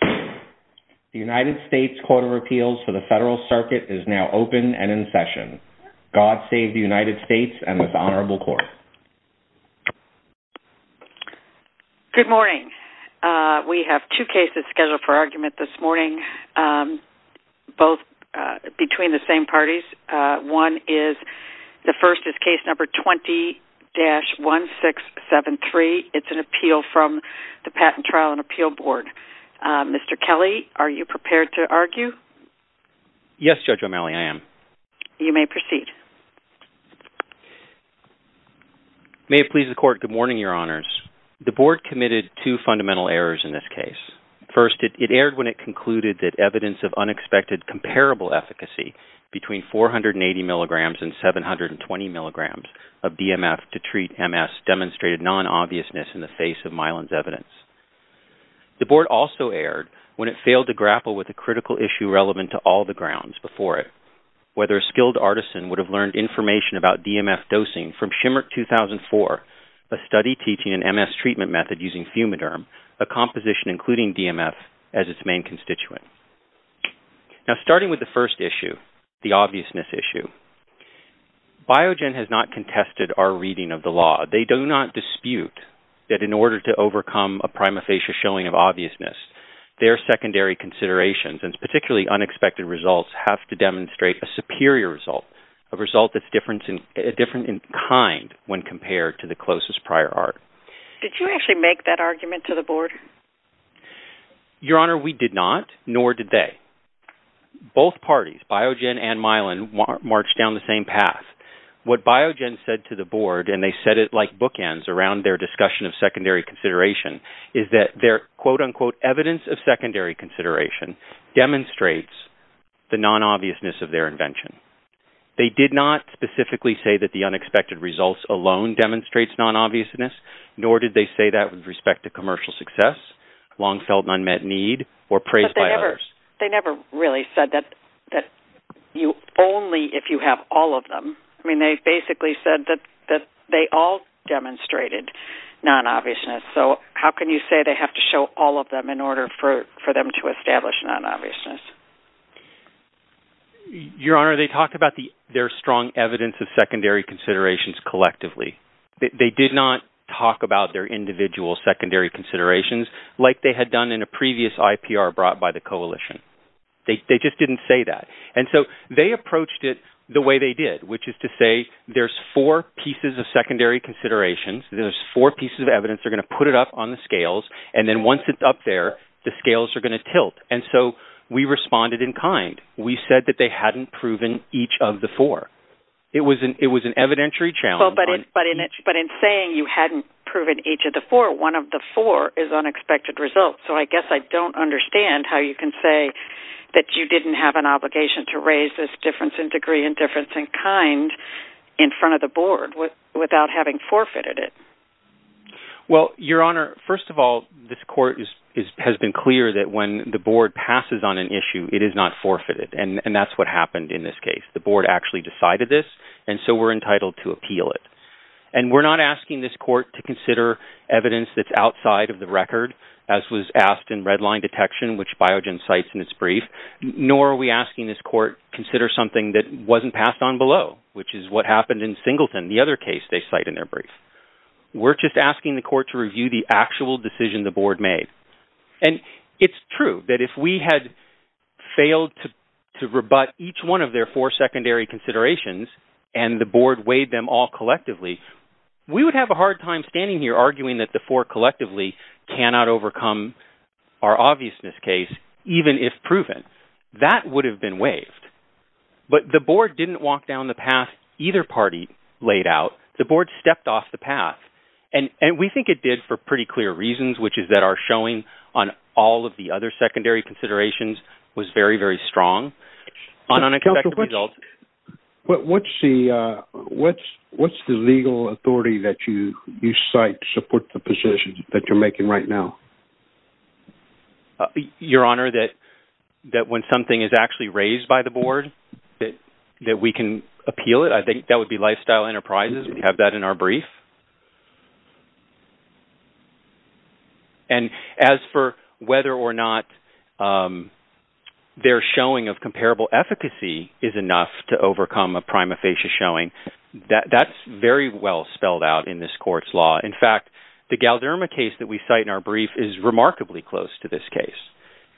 The United States Court of Appeals for the Federal Circuit is now open and in session. God save the United States and this Honorable Court. Good morning. We have two cases scheduled for argument this morning, both between the same parties. One is, the first is case number 20-1673. It's an appeal from the Patent Trial and Appeal Board. Mr. Kelly, are you prepared to argue? Yes, Judge O'Malley, I am. You may proceed. May it please the Court, good morning, Your Honors. The Board committed two fundamental errors in this case. First, it erred when it concluded that evidence of unexpected comparable efficacy between 480 mg and 720 mg of DMF to treat MS demonstrated non-obviousness in the face of Mylan's evidence. The Board also erred when it failed to grapple with a critical issue relevant to all the grounds before it, whether a skilled artisan would have learned information about DMF dosing from Shimmert 2004, a study teaching an MS treatment method using Fumiderm, a composition including DMF, as its main constituent. Now, starting with the first issue, the obviousness issue, Biogen has not contested our reading of the law. They do not dispute that in order to overcome a prima facie showing of obviousness, their secondary considerations, and particularly unexpected results, have to demonstrate a superior result, a result that's different in kind when compared to the closest prior art. Did you actually make that argument to the Board? Your Honor, we did not, nor did they. Both parties, Biogen and Mylan, marched down the same path. What Biogen said to the Board, and they said it like bookends around their discussion of secondary consideration, is that their quote-unquote evidence of secondary consideration demonstrates the non-obviousness of their invention. They did not specifically say that the unexpected results alone demonstrates non-obviousness, nor did they say that with respect to commercial success, long-felt and unmet need, or praise by others. They never really said that only if you have all of them. I mean, they basically said that they all demonstrated non-obviousness. So how can you say they have to show all of them in order for them to establish non-obviousness? Your Honor, they talked about their strong evidence of secondary considerations collectively. They did not talk about their individual secondary considerations like they had done in a previous IPR brought by the Coalition. They just didn't say that. And so they approached it the way they did, which is to say there's four pieces of secondary considerations, there's four pieces of evidence, they're going to put it up on the scales, and then once it's up there, the scales are going to tilt. And so we responded in kind. We said that they hadn't proven each of the four. It was an evidentiary challenge. But in saying you hadn't proven each of the four, one of the four is unexpected result. So I guess I don't understand how you can say that you didn't have an obligation to raise this difference in degree and difference in kind in front of the Board without having forfeited it. Well, Your Honor, first of all, this Court has been clear that when the Board passes on an issue, it is not forfeited, and that's what happened in this case. The Board actually decided this, and so we're entitled to appeal it. And we're not asking this Court to consider evidence that's outside of the record, as was asked in redline detection, which Biogen cites in its brief, nor are we asking this Court to consider something that wasn't passed on below, which is what happened in Singleton, the other case they cite in their brief. We're just asking the Court to review the actual decision the Board made. And it's true that if we had failed to rebut each one of their four secondary considerations and the Board waived them all collectively, we would have a hard time standing here arguing that the four collectively cannot overcome our obviousness case, even if proven. That would have been waived. But the Board didn't walk down the path either party laid out. The Board stepped off the path, and we think it did for pretty clear reasons, which is that our showing on all of the other secondary considerations was very, very strong on unexpected results. What's the legal authority that you cite to support the position that you're making right now? Your Honor, that when something is actually raised by the Board, that we can appeal it, I think that would be Lifestyle Enterprises. We have that in our brief. And as for whether or not their showing of comparable efficacy is enough to overcome a prima facie showing, that's very well spelled out in this Court's law. In fact, the Galderma case that we cite in our brief is remarkably close to this case.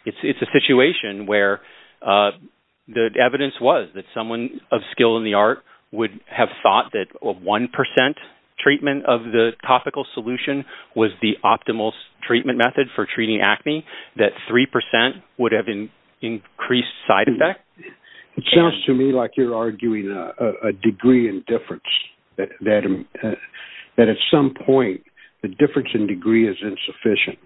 It's a situation where the evidence was that someone of skill in the art would have thought that 1% treatment of the topical solution was the optimal treatment method for treating acne, that 3% would have increased side effect. It sounds to me like you're arguing a degree in difference, that at some point the difference in degree is insufficient.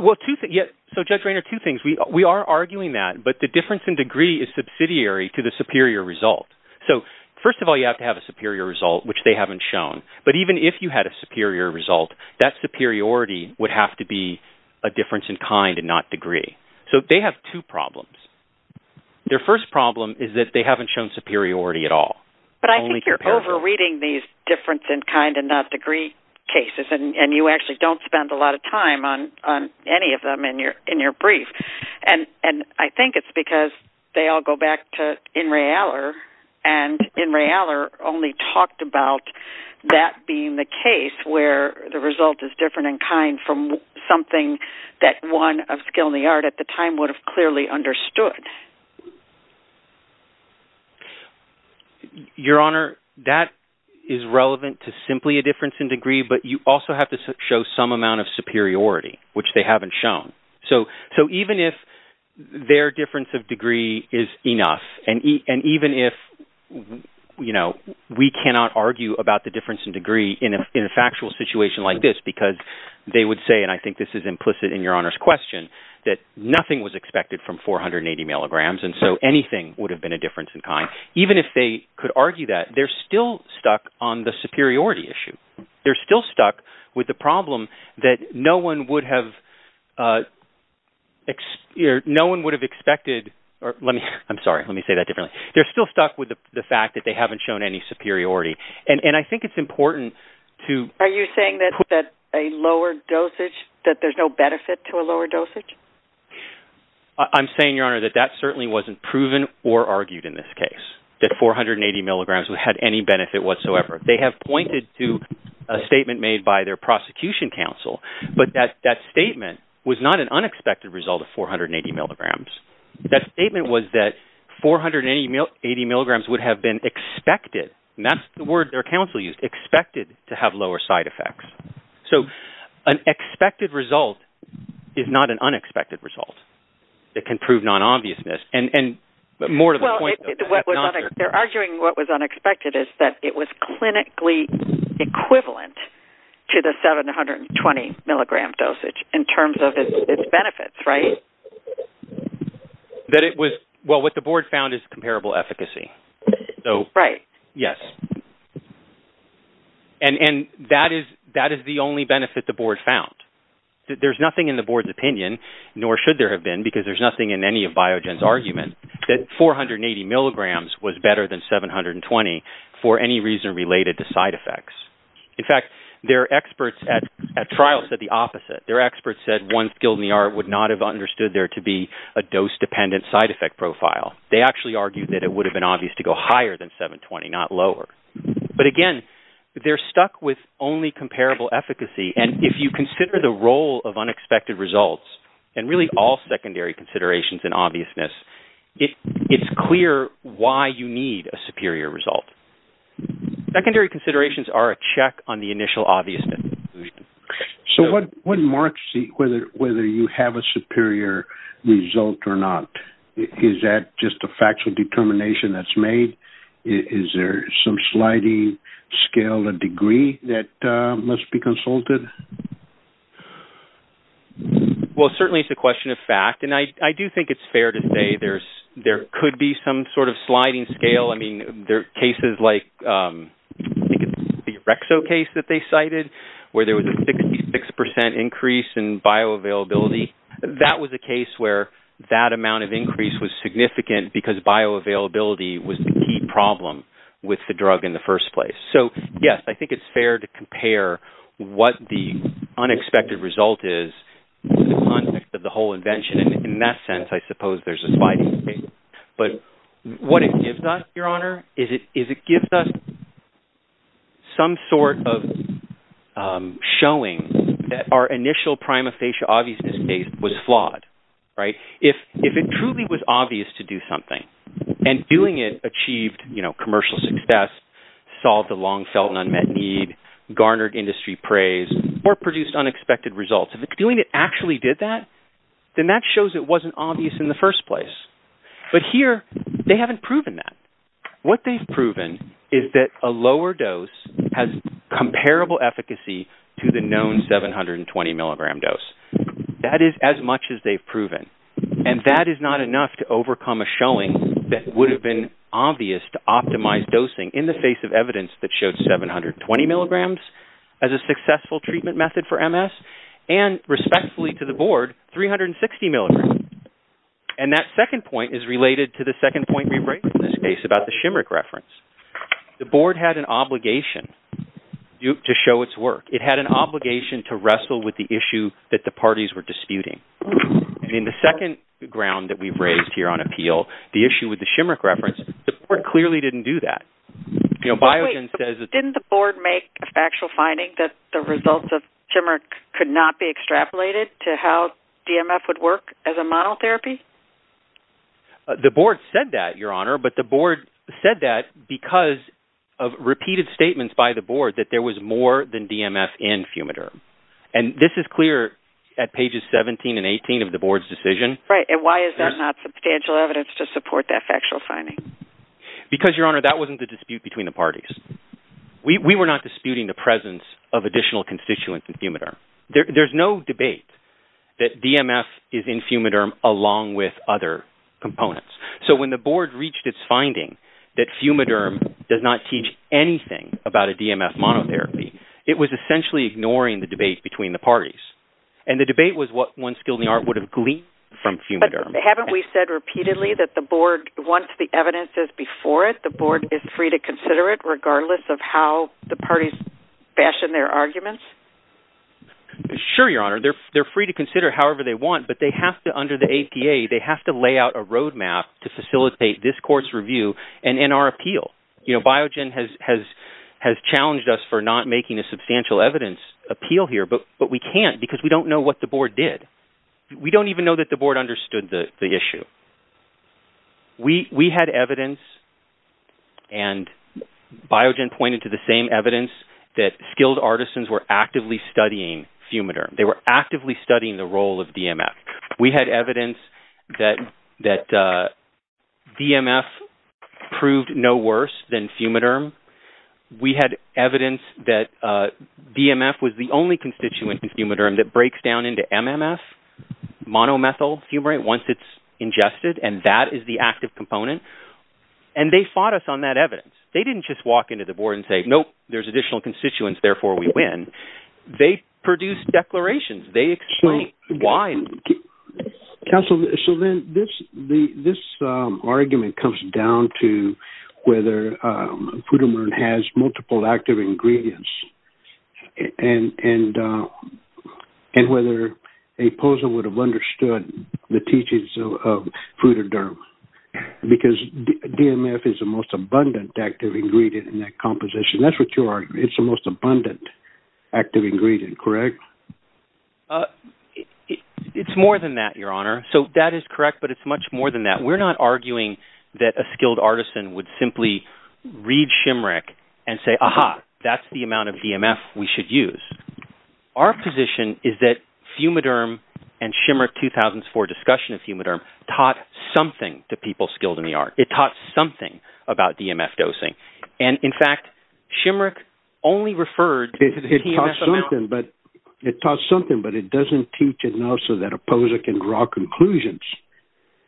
Well, Judge Rayner, two things. We are arguing that, but the difference in degree is subsidiary to the superior result. So, first of all, you have to have a superior result, which they haven't shown. But even if you had a superior result, that superiority would have to be a difference in kind and not degree. So they have two problems. Their first problem is that they haven't shown superiority at all. But I think you're over-reading these difference in kind and not degree cases, and you actually don't spend a lot of time on any of them in your brief. And I think it's because they all go back to In re Aller, and In re Aller only talked about that being the case where the result is different in kind from something that one of skill in the art at the time would have clearly understood. Your Honor, that is relevant to simply a difference in degree, but you also have to show some amount of superiority, which they haven't shown. So even if their difference of degree is enough, and even if, you know, we cannot argue about the difference in degree in a factual situation like this because they would say, and I think this is implicit in Your Honor's question, that nothing was expected from 480 milligrams, and so anything would have been a difference in kind. Even if they could argue that, they're still stuck on the superiority issue. They're still stuck with the problem that no one would have expected. I'm sorry, let me say that differently. They're still stuck with the fact that they haven't shown any superiority. And I think it's important to... Are you saying that a lower dosage, that there's no benefit to a lower dosage? I'm saying, Your Honor, that that certainly wasn't proven or argued in this case, that 480 milligrams had any benefit whatsoever. They have pointed to a statement made by their prosecution counsel, but that statement was not an unexpected result of 480 milligrams. That statement was that 480 milligrams would have been expected, and that's the word their counsel used, expected to have lower side effects. So an expected result is not an unexpected result. It can prove non-obviousness. They're arguing what was unexpected is that it was clinically equivalent to the 720 milligram dosage in terms of its benefits, right? Well, what the board found is comparable efficacy. Right. Yes. And that is the only benefit the board found. There's nothing in the board's opinion, nor should there have been, because there's nothing in any of Biogen's argument, that 480 milligrams was better than 720 for any reason related to side effects. In fact, their experts at trial said the opposite. Their experts said, once GILDNR would not have understood there to be a dose-dependent side effect profile. They actually argued that it would have been obvious to go higher than 720, not lower. But, again, they're stuck with only comparable efficacy, and if you consider the role of unexpected results and really all secondary considerations in obviousness, it's clear why you need a superior result. Secondary considerations are a check on the initial obviousness. So what marks whether you have a superior result or not? Is that just a factual determination that's made? Is there some sliding scale or degree that must be consulted? Well, certainly it's a question of fact, and I do think it's fair to say there could be some sort of sliding scale. I mean, there are cases like the Rexo case that they cited, where there was a 66% increase in bioavailability. That was a case where that amount of increase was significant because bioavailability was the key problem with the drug in the first place. So, yes, I think it's fair to compare what the unexpected result is in the context of the whole invention, and in that sense I suppose there's a sliding scale. But what it gives us, Your Honor, is it gives us some sort of showing that our initial prima facie obviousness case was flawed. If it truly was obvious to do something, and doing it achieved commercial success, solved a long-felt and unmet need, garnered industry praise, or produced unexpected results. If doing it actually did that, then that shows it wasn't obvious in the first place. But here they haven't proven that. What they've proven is that a lower dose has comparable efficacy to the known 720-milligram dose. That is as much as they've proven, and that is not enough to overcome a showing that would have been obvious to optimize dosing in the face of evidence that showed 720 milligrams as a successful treatment method for MS, and respectfully to the Board, 360 milligrams. And that second point is related to the second point we raised in this case about the Shimrick reference. The Board had an obligation to show its work. It had an obligation to wrestle with the issue that the parties were disputing. And in the second ground that we've raised here on appeal, the issue with the Shimrick reference, the Board clearly didn't do that. You know, Biogen says that... But wait, didn't the Board make a factual finding that the results of Shimrick could not be extrapolated to how DMF would work as a monotherapy? The Board said that, Your Honor, but the Board said that because of repeated statements by the Board that there was more than DMF in Fumiderm. And this is clear at pages 17 and 18 of the Board's decision. Right, and why is there not substantial evidence to support that factual finding? Because, Your Honor, that wasn't the dispute between the parties. We were not disputing the presence of additional constituents in Fumiderm. There's no debate that DMF is in Fumiderm along with other components. So when the Board reached its finding that Fumiderm does not teach anything about a DMF monotherapy, it was essentially ignoring the debate between the parties. And the debate was what one skill in the art would have gleaned from Fumiderm. But haven't we said repeatedly that the Board, once the evidence is before it, the Board is free to consider it regardless of how the parties fashion their arguments? Sure, Your Honor. They're free to consider it however they want, but they have to, under the APA, they have to lay out a roadmap to facilitate this court's review and in our appeal. You know, Biogen has challenged us for not making a substantial evidence appeal here, but we can't because we don't know what the Board did. We don't even know that the Board understood the issue. We had evidence, and Biogen pointed to the same evidence, that skilled artisans were actively studying Fumiderm. They were actively studying the role of DMF. We had evidence that DMF proved no worse than Fumiderm. We had evidence that DMF was the only constituent in Fumiderm that breaks down into MMF, monomethyl fumarate, once it's ingested, and that is the active component. And they fought us on that evidence. They didn't just walk into the Board and say, nope, there's additional constituents, therefore we win. They produced declarations. They explained why. Counsel, so then this argument comes down to whether Fumiderm has multiple active ingredients and whether APOSA would have understood the teachings of Fumiderm because DMF is the most abundant active ingredient in that composition. That's what you're arguing. It's the most abundant active ingredient, correct? It's more than that, Your Honor. So that is correct, but it's much more than that. We're not arguing that a skilled artisan would simply read Shimrick and say, aha, that's the amount of DMF we should use. Our position is that Fumiderm and Shimrick's 2004 discussion of Fumiderm taught something to people skilled in the art. It taught something about DMF dosing. And in fact, Shimrick only referred to the DMF amount. It taught something, but it doesn't teach enough so that APOSA can draw conclusions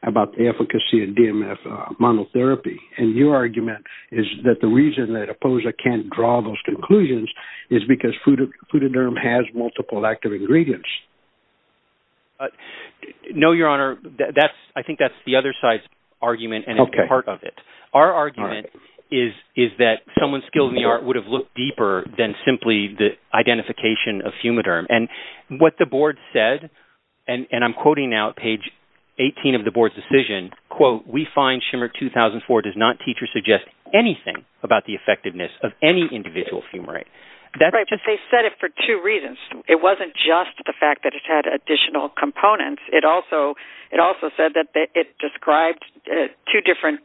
about the efficacy of DMF monotherapy. And your argument is that the reason that APOSA can't draw those conclusions is because Fumiderm has multiple active ingredients. No, Your Honor, I think that's the other side's argument and it's part of it. Our argument is that someone skilled in the art would have looked deeper than simply the identification of Fumiderm. And what the board said, and I'm quoting now page 18 of the board's decision, quote, we find Shimrick 2004 does not teach or suggest anything about the effectiveness of any individual fumarate. They said it for two reasons. It wasn't just the fact that it had additional components. It also said that it described two different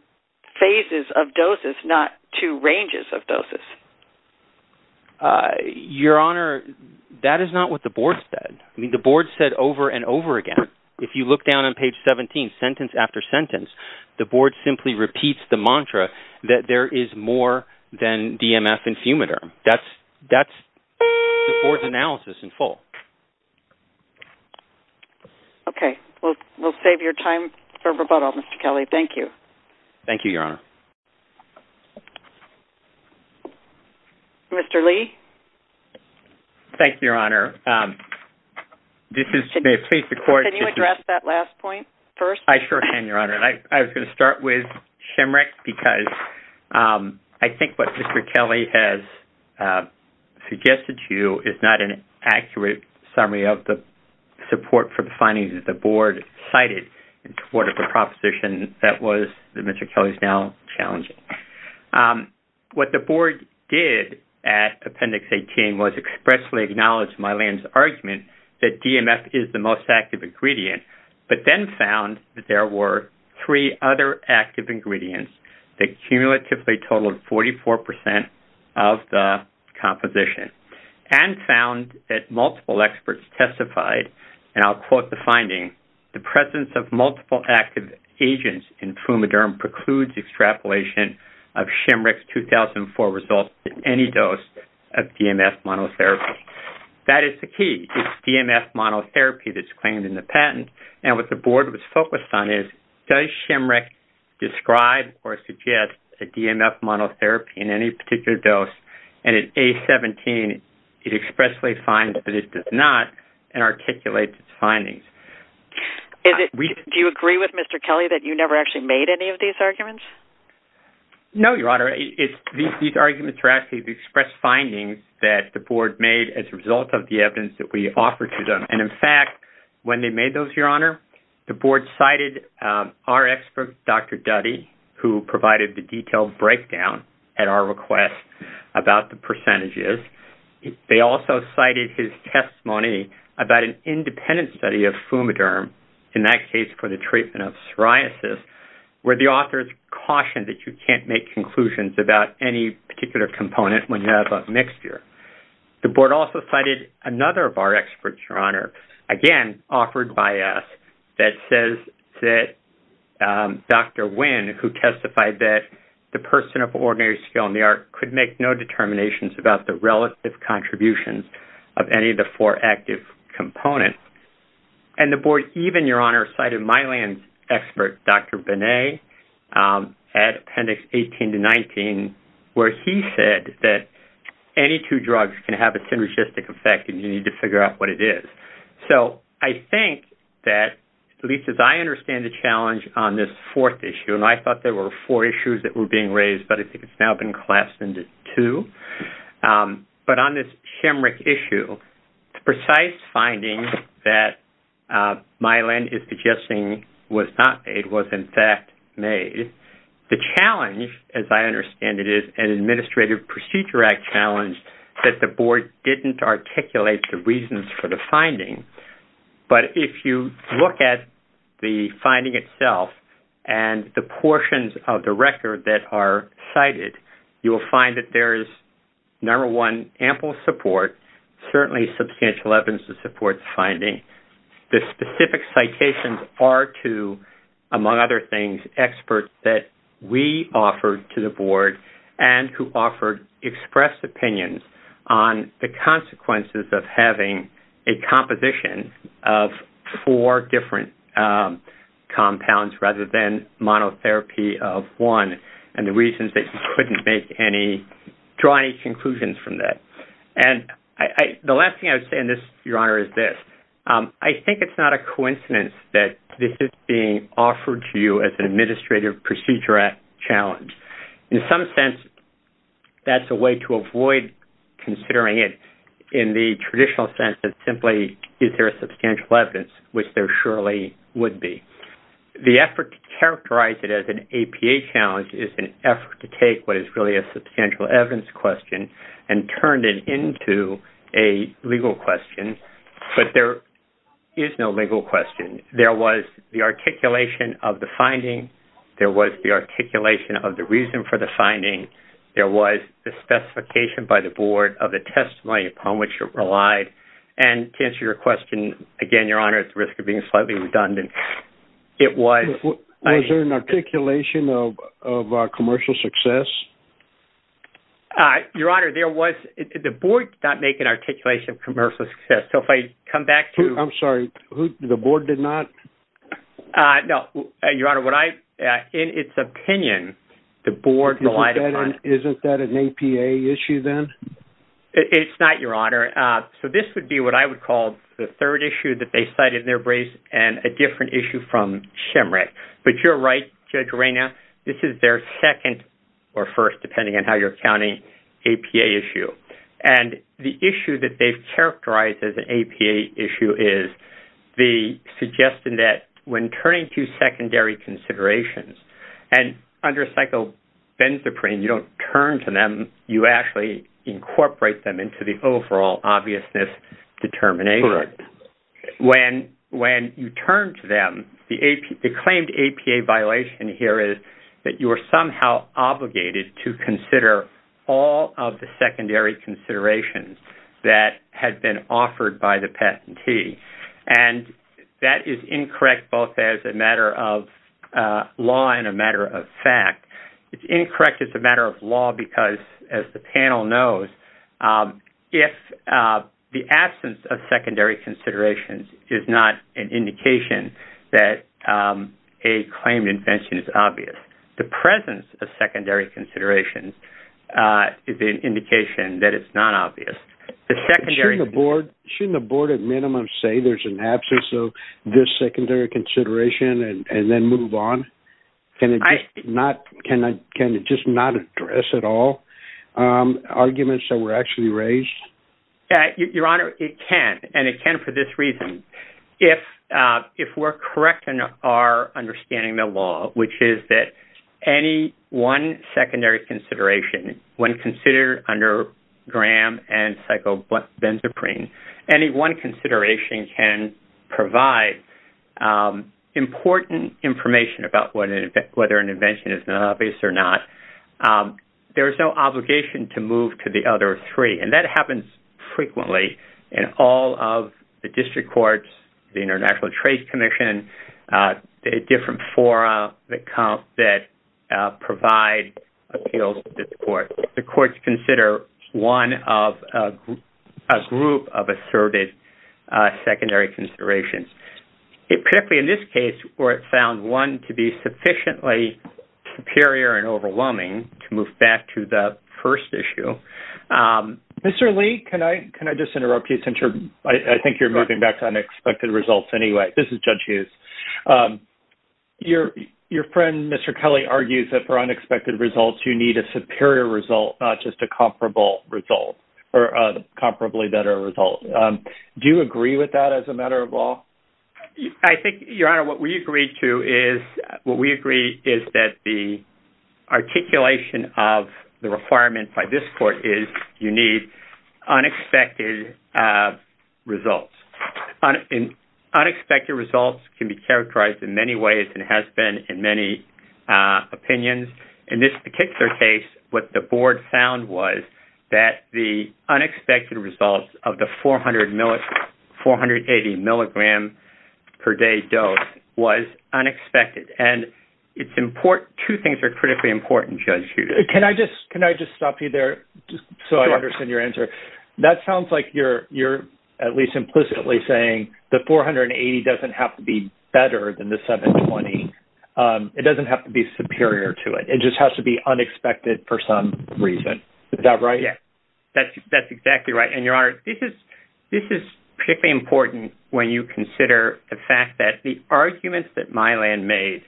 phases of doses, not two ranges of doses. Your Honor, that is not what the board said. I mean, the board said over and over again. If you look down on page 17, sentence after sentence, the board simply repeats the mantra that there is more than DMF and Fumiderm. That's the board's analysis in full. Okay. We'll save your time for rebuttal, Mr. Kelly. Thank you. Thank you, Your Honor. Mr. Lee? Thank you, Your Honor. May it please the Court. Can you address that last point first? I sure can, Your Honor. I was going to start with Shimrick because I think what Mr. Kelly has suggested to you is not an accurate summary of the support for the findings that the board cited in support of the proposition that Mr. Kelly is now challenging. What the board did at Appendix 18 was expressly acknowledge Mylan's argument that DMF is the most active ingredient, but then found that there were three other active ingredients that cumulatively totaled 44% of the composition. And found that multiple experts testified, and I'll quote the finding, the presence of multiple active agents in Fumiderm precludes extrapolation of Shimrick's 2004 results in any dose of DMF monotherapy. That is the key. It's DMF monotherapy that's claimed in the patent. And what the board was focused on is, does Shimrick describe or suggest a DMF monotherapy in any particular dose? And in A17, it expressly finds that it does not and articulates its findings. Do you agree with Mr. Kelly that you never actually made any of these arguments? No, Your Honor. These arguments were actually expressed findings that the board made as a result of the evidence that we offered to them. And in fact, when they made those, Your Honor, the board cited our expert, Dr. Duddy, who provided the detailed breakdown at our request about the percentages. They also cited his testimony about an independent study of Fumiderm, in that case for the treatment of psoriasis, where the authors cautioned that you can't make conclusions about any particular component when you have a mixture. The board also cited another of our experts, Your Honor, again offered by us, that says that Dr. Winn, who testified that the person of ordinary skill in the art could make no determinations about the relative contributions of any of the four active components. And the board even, Your Honor, cited Mylan's expert, Dr. Binet, at Appendix 18 to 19, where he said that any two drugs can have a synergistic effect and you need to figure out what it is. So I think that, at least as I understand the challenge on this fourth issue, and I thought there were four issues that were being raised, but I think it's now been collapsed into two. But on this Shemrick issue, the precise finding that Mylan is suggesting was not made was in fact made. The challenge, as I understand it, is an Administrative Procedure Act challenge that the board didn't articulate the reasons for the finding. But if you look at the finding itself and the portions of the record that are cited, you will find that there is, number one, ample support, certainly substantial evidence to support the finding. The specific citations are to, among other things, experts that we offered to the board and who offered expressed opinions on the consequences of having a composition of four different compounds rather than monotherapy of one and the reasons they couldn't draw any conclusions from that. And the last thing I would say in this, Your Honor, is this. I think it's not a coincidence that this is being offered to you as an Administrative Procedure Act challenge. In some sense, that's a way to avoid considering it in the traditional sense that simply is there substantial evidence, which there surely would be. The effort to characterize it as an APA challenge is an effort to take what is really a substantial evidence question and turn it into a legal question. But there is no legal question. There was the articulation of the finding. There was the articulation of the reason for the finding. There was the specification by the board of the testimony upon which it relied. And to answer your question, again, Your Honor, at the risk of being slightly redundant, it was... Was there an articulation of commercial success? Your Honor, there was. The board did not make an articulation of commercial success. So if I come back to... I'm sorry. The board did not? No, Your Honor. Your Honor, in its opinion, the board relied upon... Isn't that an APA issue then? It's not, Your Honor. So this would be what I would call the third issue that they cited in their brief and a different issue from SHMREC. But you're right, Judge Reina. This is their second or first, depending on how you're counting, APA issue. And the issue that they've characterized as an APA issue is the suggestion that when turning to secondary considerations, and under a psychobenzaprine, you don't turn to them, you actually incorporate them into the overall obviousness determination. Correct. When you turn to them, the claimed APA violation here is that you are somehow obligated to consider all of the secondary considerations that had been offered by the patentee. And that is incorrect both as a matter of law and a matter of fact. It's incorrect as a matter of law because, as the panel knows, if the absence of secondary considerations is not an indication that a claimed invention is obvious, the presence of secondary considerations is an indication that it's not obvious. Shouldn't the board at minimum say there's an absence of this secondary consideration and then move on? Can it just not address at all arguments that were actually raised? Your Honor, it can. And it can for this reason. If we're correct in our understanding of the law, which is that any one secondary consideration, when considered under Graham and psychobenzaprine, any one consideration can provide important information about whether an invention is obvious or not, there is no obligation to move to the other three. And that happens frequently in all of the district courts, the International Trade Commission, the different fora that provide appeals to the courts. The courts consider one of a group of asserted secondary considerations. Particularly in this case where it found one to be sufficiently superior and overwhelming to move back to the first issue, Mr. Lee, can I just interrupt you? I think you're moving back to unexpected results anyway. This is Judge Hughes. Your friend, Mr. Kelly, argues that for unexpected results, you need a superior result, not just a comparable result or a comparably better result. Do you agree with that as a matter of law? I think, Your Honor, what we agree to is, what we agree is that the articulation of the requirement by this court is you need unexpected results. Unexpected results can be characterized in many ways and has been in many opinions. In this particular case, what the board found was that the unexpected results of the 480 milligram per day dose was unexpected. And two things are critically important, Judge Hughes. Can I just stop you there so I understand your answer? That sounds like you're at least implicitly saying the 480 doesn't have to be better than the 720. It doesn't have to be superior to it. It just has to be unexpected for some reason. Is that right? That's exactly right. And, Your Honor, this is particularly important when you consider the fact that the arguments that Mylan made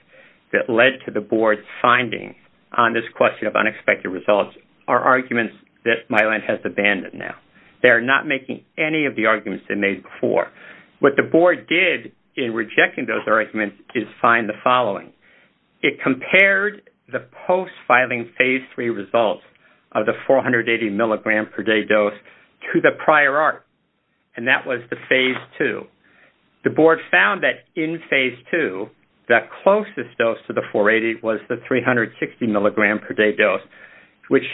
that led to the board's finding on this question of unexpected results are arguments that Mylan has abandoned now. They're not making any of the arguments they made before. What the board did in rejecting those arguments is find the following. It compared the post-filing Phase 3 results of the 480 milligram per day dose to the prior art, and that was the Phase 2. The board found that in Phase 2, the closest dose to the 480 was the 360 milligram per day dose, which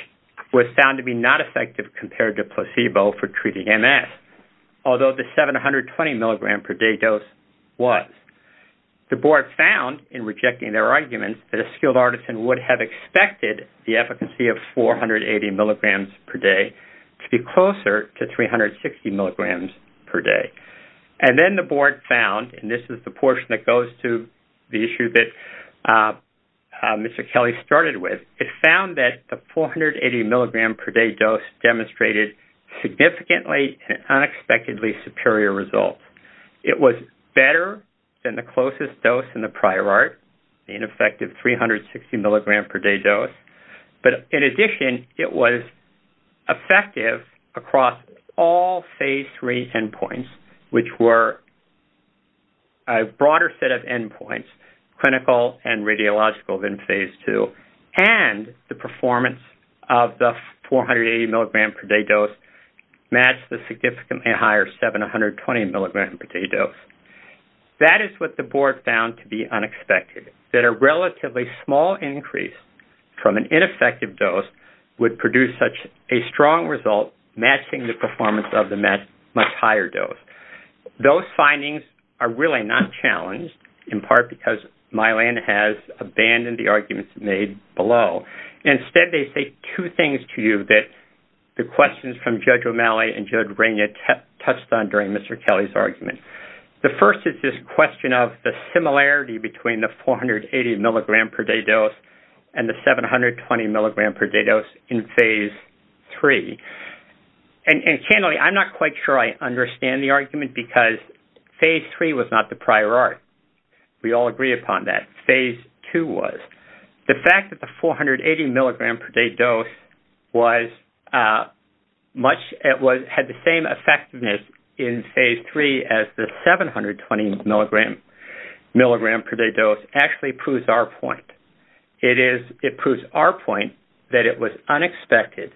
was found to be not effective compared to placebo for treating MS, although the 720 milligram per day dose was. The board found in rejecting their arguments that a skilled artisan would have expected the efficacy of 480 milligrams per day to be closer to 360 milligrams per day. And then the board found, and this is the portion that goes to the issue that Mr. Kelly started with, it found that the 480 milligram per day dose demonstrated significantly and unexpectedly superior results. It was better than the closest dose in the prior art, the ineffective 360 milligram per day dose, but in addition, it was effective across all Phase 3 endpoints, which were a broader set of endpoints, clinical and radiological, than Phase 2, and the performance of the 480 milligram per day dose matched the significantly higher 720 milligram per day dose. That is what the board found to be unexpected, that a relatively small increase from an ineffective dose would produce such a strong result matching the performance of the much higher dose. Those findings are really not challenged, in part because Mylan has abandoned the arguments made below. Instead, they say two things to you that the questions from Judge O'Malley and Judge Reina touched on during Mr. Kelly's argument. The first is this question of the similarity between the 480 milligram per day dose and the 720 milligram per day dose in Phase 3. And candidly, I'm not quite sure I understand the argument because Phase 3 was not the prior art. We all agree upon that. Phase 2 was. The fact that the 480 milligram per day dose had the same effectiveness in Phase 3 as the 720 milligram per day dose actually proves our point. It proves our point that it was unexpected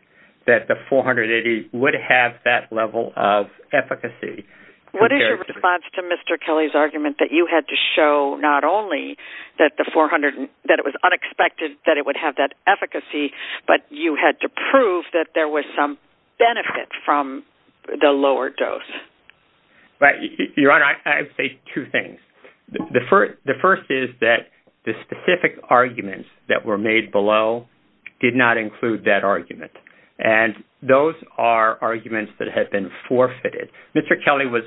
that the 480 would have that level of efficacy. What is your response to Mr. Kelly's argument that you had to show not only that it was unexpected that it would have that efficacy, but you had to prove that there was some benefit from the lower dose? Your Honor, I would say two things. The first is that the specific arguments that were made below did not include that argument. And those are arguments that have been forfeited. Mr. Kelly was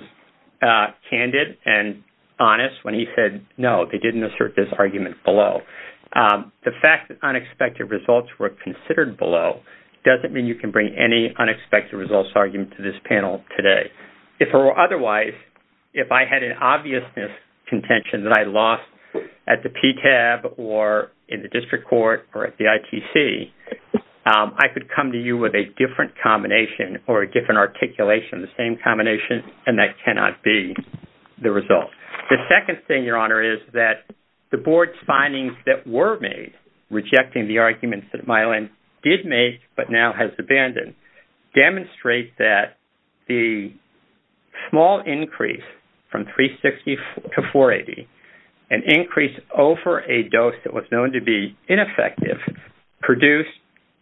candid and honest when he said, no, they didn't assert this argument below. The fact that unexpected results were considered below doesn't mean you can bring any unexpected results argument to this panel today. Otherwise, if I had an obviousness contention that I lost at the PTAB or in the district court or at the ITC, I could come to you with a different combination or a different articulation, the same combination, and that cannot be the result. The second thing, Your Honor, is that the board's findings that were made, rejecting the arguments that Mylan did make but now has abandoned, demonstrate that the small increase from 360 to 480, an increase over a dose that was known to be ineffective, produced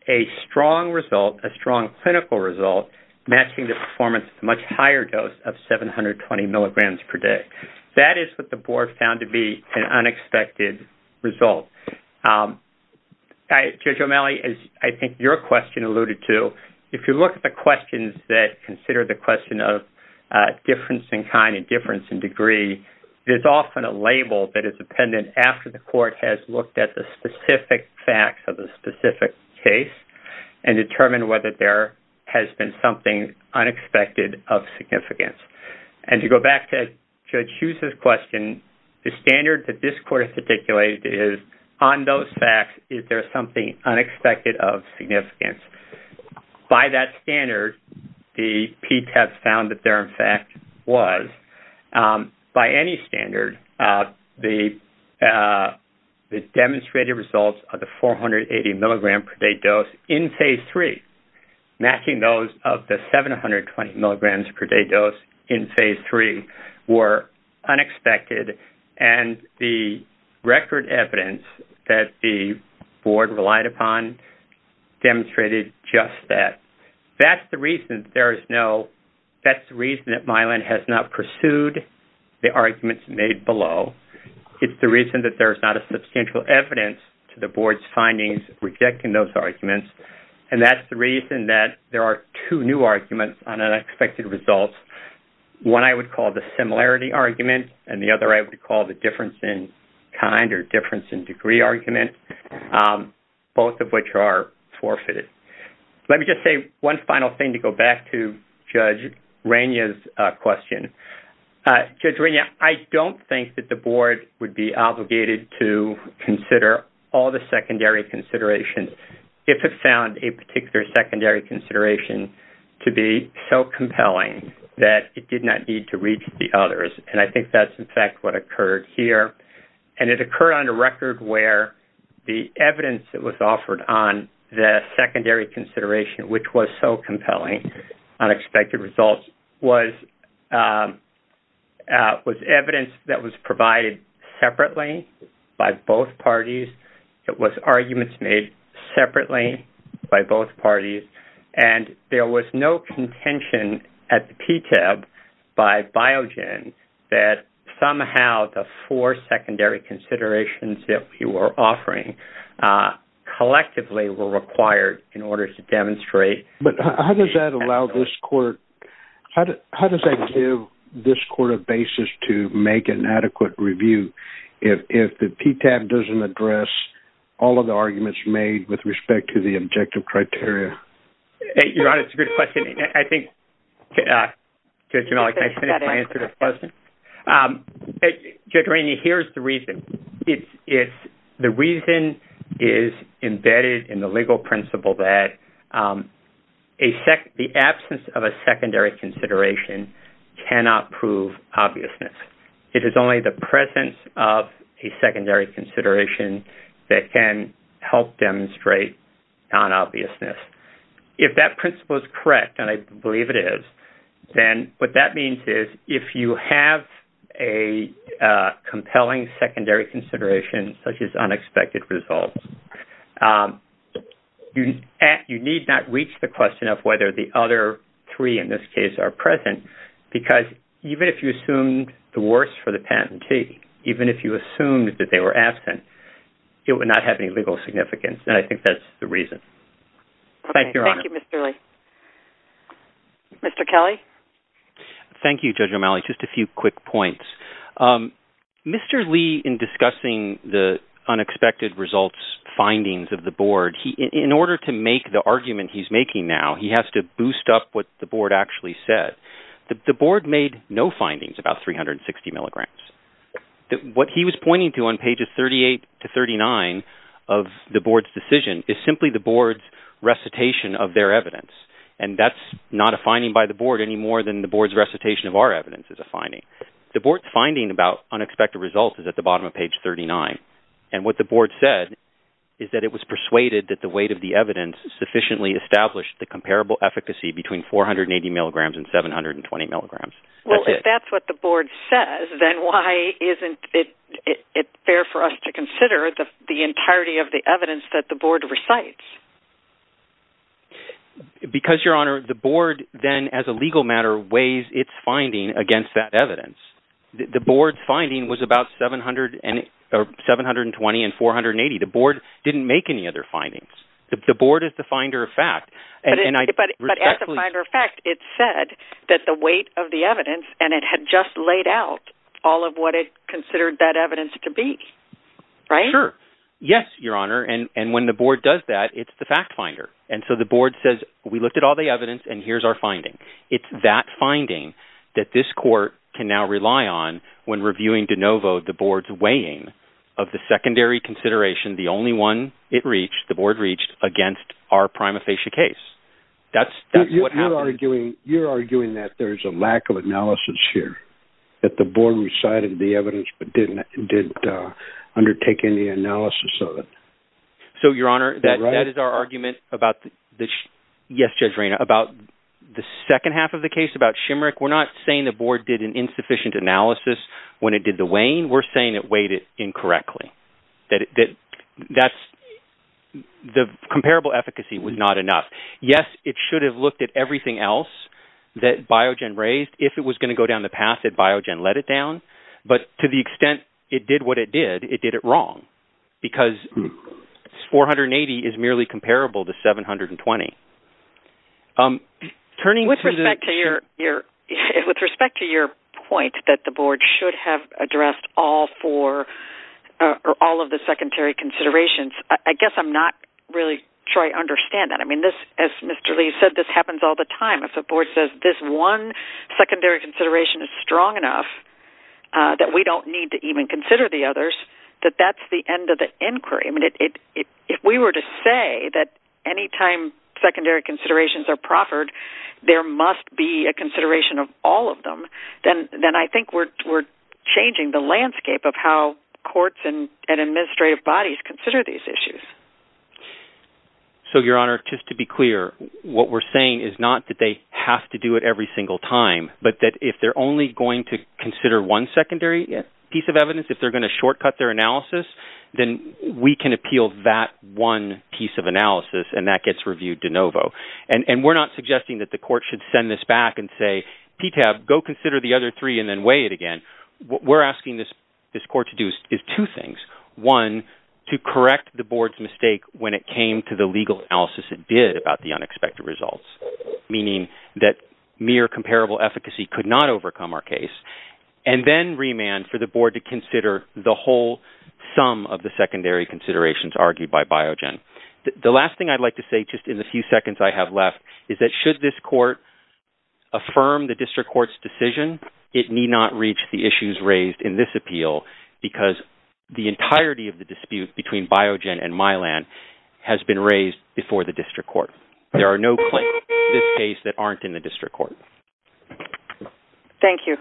a strong result, a strong clinical result, matching the performance of a much higher dose of 720 milligrams per day. That is what the board found to be an unexpected result. Judge O'Malley, as I think your question alluded to, if you look at the questions that consider the question of difference in kind and difference in degree, there's often a label that is appended after the court has looked at the specific facts of the specific case and determined whether there has been something unexpected of significance. And to go back to Judge Hughes' question, the standard that this court has articulated is, on those facts, is there something unexpected of significance? By that standard, the PTAB found that there, in fact, was. By any standard, the demonstrated results of the 480 milligram per day dose in Phase 3, matching those of the 720 milligrams per day dose in Phase 3, were unexpected. And the record evidence that the board relied upon demonstrated just that. That's the reason that Mylan has not pursued the arguments made below. It's the reason that there's not a substantial evidence to the board's findings rejecting those arguments. And that's the reason that there are two new arguments on unexpected results, one I would call the similarity argument and the other I would call the difference in kind or difference in degree argument, both of which are forfeited. Let me just say one final thing to go back to Judge Rania's question. Judge Rania, I don't think that the board would be obligated to consider all the secondary considerations if it found a particular secondary consideration to be so compelling that it did not need to reach the others. And I think that's, in fact, what occurred here. And it occurred on a record where the evidence that was offered on the secondary consideration, which was so compelling, unexpected results, was evidence that was provided separately by both parties. It was arguments made separately by both parties. And there was no contention at the PTAB by Biogen that somehow the four secondary considerations that we were offering collectively were required in order to demonstrate. But how does that allow this court, how does that give this court a basis to make an adequate review if the PTAB doesn't address all of the arguments made with respect to the objective criteria? Your Honor, it's a good question. I think, Judge Jamali, can I finish my answer to the question? Judge Rania, here's the reason. The reason is embedded in the legal principle that the absence of a secondary consideration cannot prove obviousness. It is only the presence of a secondary consideration that can help demonstrate non-obviousness. If that principle is correct, and I believe it is, then what that means is if you have a compelling secondary consideration, such as unexpected results, you need not reach the question of whether the other three, in this case, are present. Because even if you assumed the worst for the patentee, even if you assumed that they were absent, it would not have any legal significance, and I think that's the reason. Thank you, Your Honor. Okay, thank you, Mr. Lee. Mr. Kelly? Thank you, Judge Jamali. Just a few quick points. Mr. Lee, in discussing the unexpected results findings of the board, in order to make the argument he's making now, he has to boost up what the board actually said. The board made no findings about 360 milligrams. What he was pointing to on pages 38 to 39 of the board's decision is simply the board's recitation of their evidence, and that's not a finding by the board anymore than the board's recitation of our evidence is a finding. The board's finding about unexpected results is at the bottom of page 39, and what the board said is that it was persuaded that the weight of the evidence sufficiently established the comparable efficacy between 480 milligrams and 720 milligrams. Well, if that's what the board says, then why isn't it fair for us to consider the entirety of the evidence that the board recites? Because, Your Honor, the board then, as a legal matter, weighs its finding against that evidence. The board's finding was about 720 and 480. The board didn't make any other findings. The board is the finder of fact. But as a finder of fact, it said that the weight of the evidence, and it had just laid out all of what it considered that evidence to be. Right? Sure. Yes, Your Honor, and when the board does that, it's the fact finder. And so the board says, we looked at all the evidence, and here's our finding. It's that finding that this court can now rely on when reviewing de novo the board's weighing of the secondary consideration, the only one it reached, the board reached, against our prima facie case. That's what happened. You're arguing that there's a lack of analysis here, that the board recited the evidence but didn't undertake any analysis of it. So, Your Honor, that is our argument about – yes, Judge Rayna – about the second half of the case, about Shimerick. We're not saying the board did an insufficient analysis when it did the weighing. We're saying it weighed it incorrectly. That's – the comparable efficacy was not enough. Yes, it should have looked at everything else that Biogen raised if it was going to go down the path that Biogen let it down. But to the extent it did what it did, it did it wrong. Because 480 is merely comparable to 720. With respect to your point that the board should have addressed all four – or all of the secondary considerations, I guess I'm not really sure I understand that. I mean, as Mr. Lee said, this happens all the time. If the board says this one secondary consideration is strong enough that we don't need to even consider the others, that that's the end of the inquiry. I mean, if we were to say that any time secondary considerations are proffered, there must be a consideration of all of them, then I think we're changing the landscape of how courts and administrative bodies consider these issues. So, Your Honor, just to be clear, what we're saying is not that they have to do it every single time, but that if they're only going to consider one secondary piece of evidence, if they're going to shortcut their analysis, then we can appeal that one piece of analysis, and that gets reviewed de novo. And we're not suggesting that the court should send this back and say, PTAB, go consider the other three and then weigh it again. What we're asking this court to do is two things. One, to correct the board's mistake when it came to the legal analysis it did about the unexpected results, meaning that mere comparable efficacy could not overcome our case, and then remand for the board to consider the whole sum of the secondary considerations argued by Biogen. The last thing I'd like to say, just in the few seconds I have left, is that should this court affirm the district court's decision, it need not reach the issues raised in this appeal because the entirety of the dispute between Biogen and Mylan has been raised before the district court. There are no claims in this case that aren't in the district court. Thank you.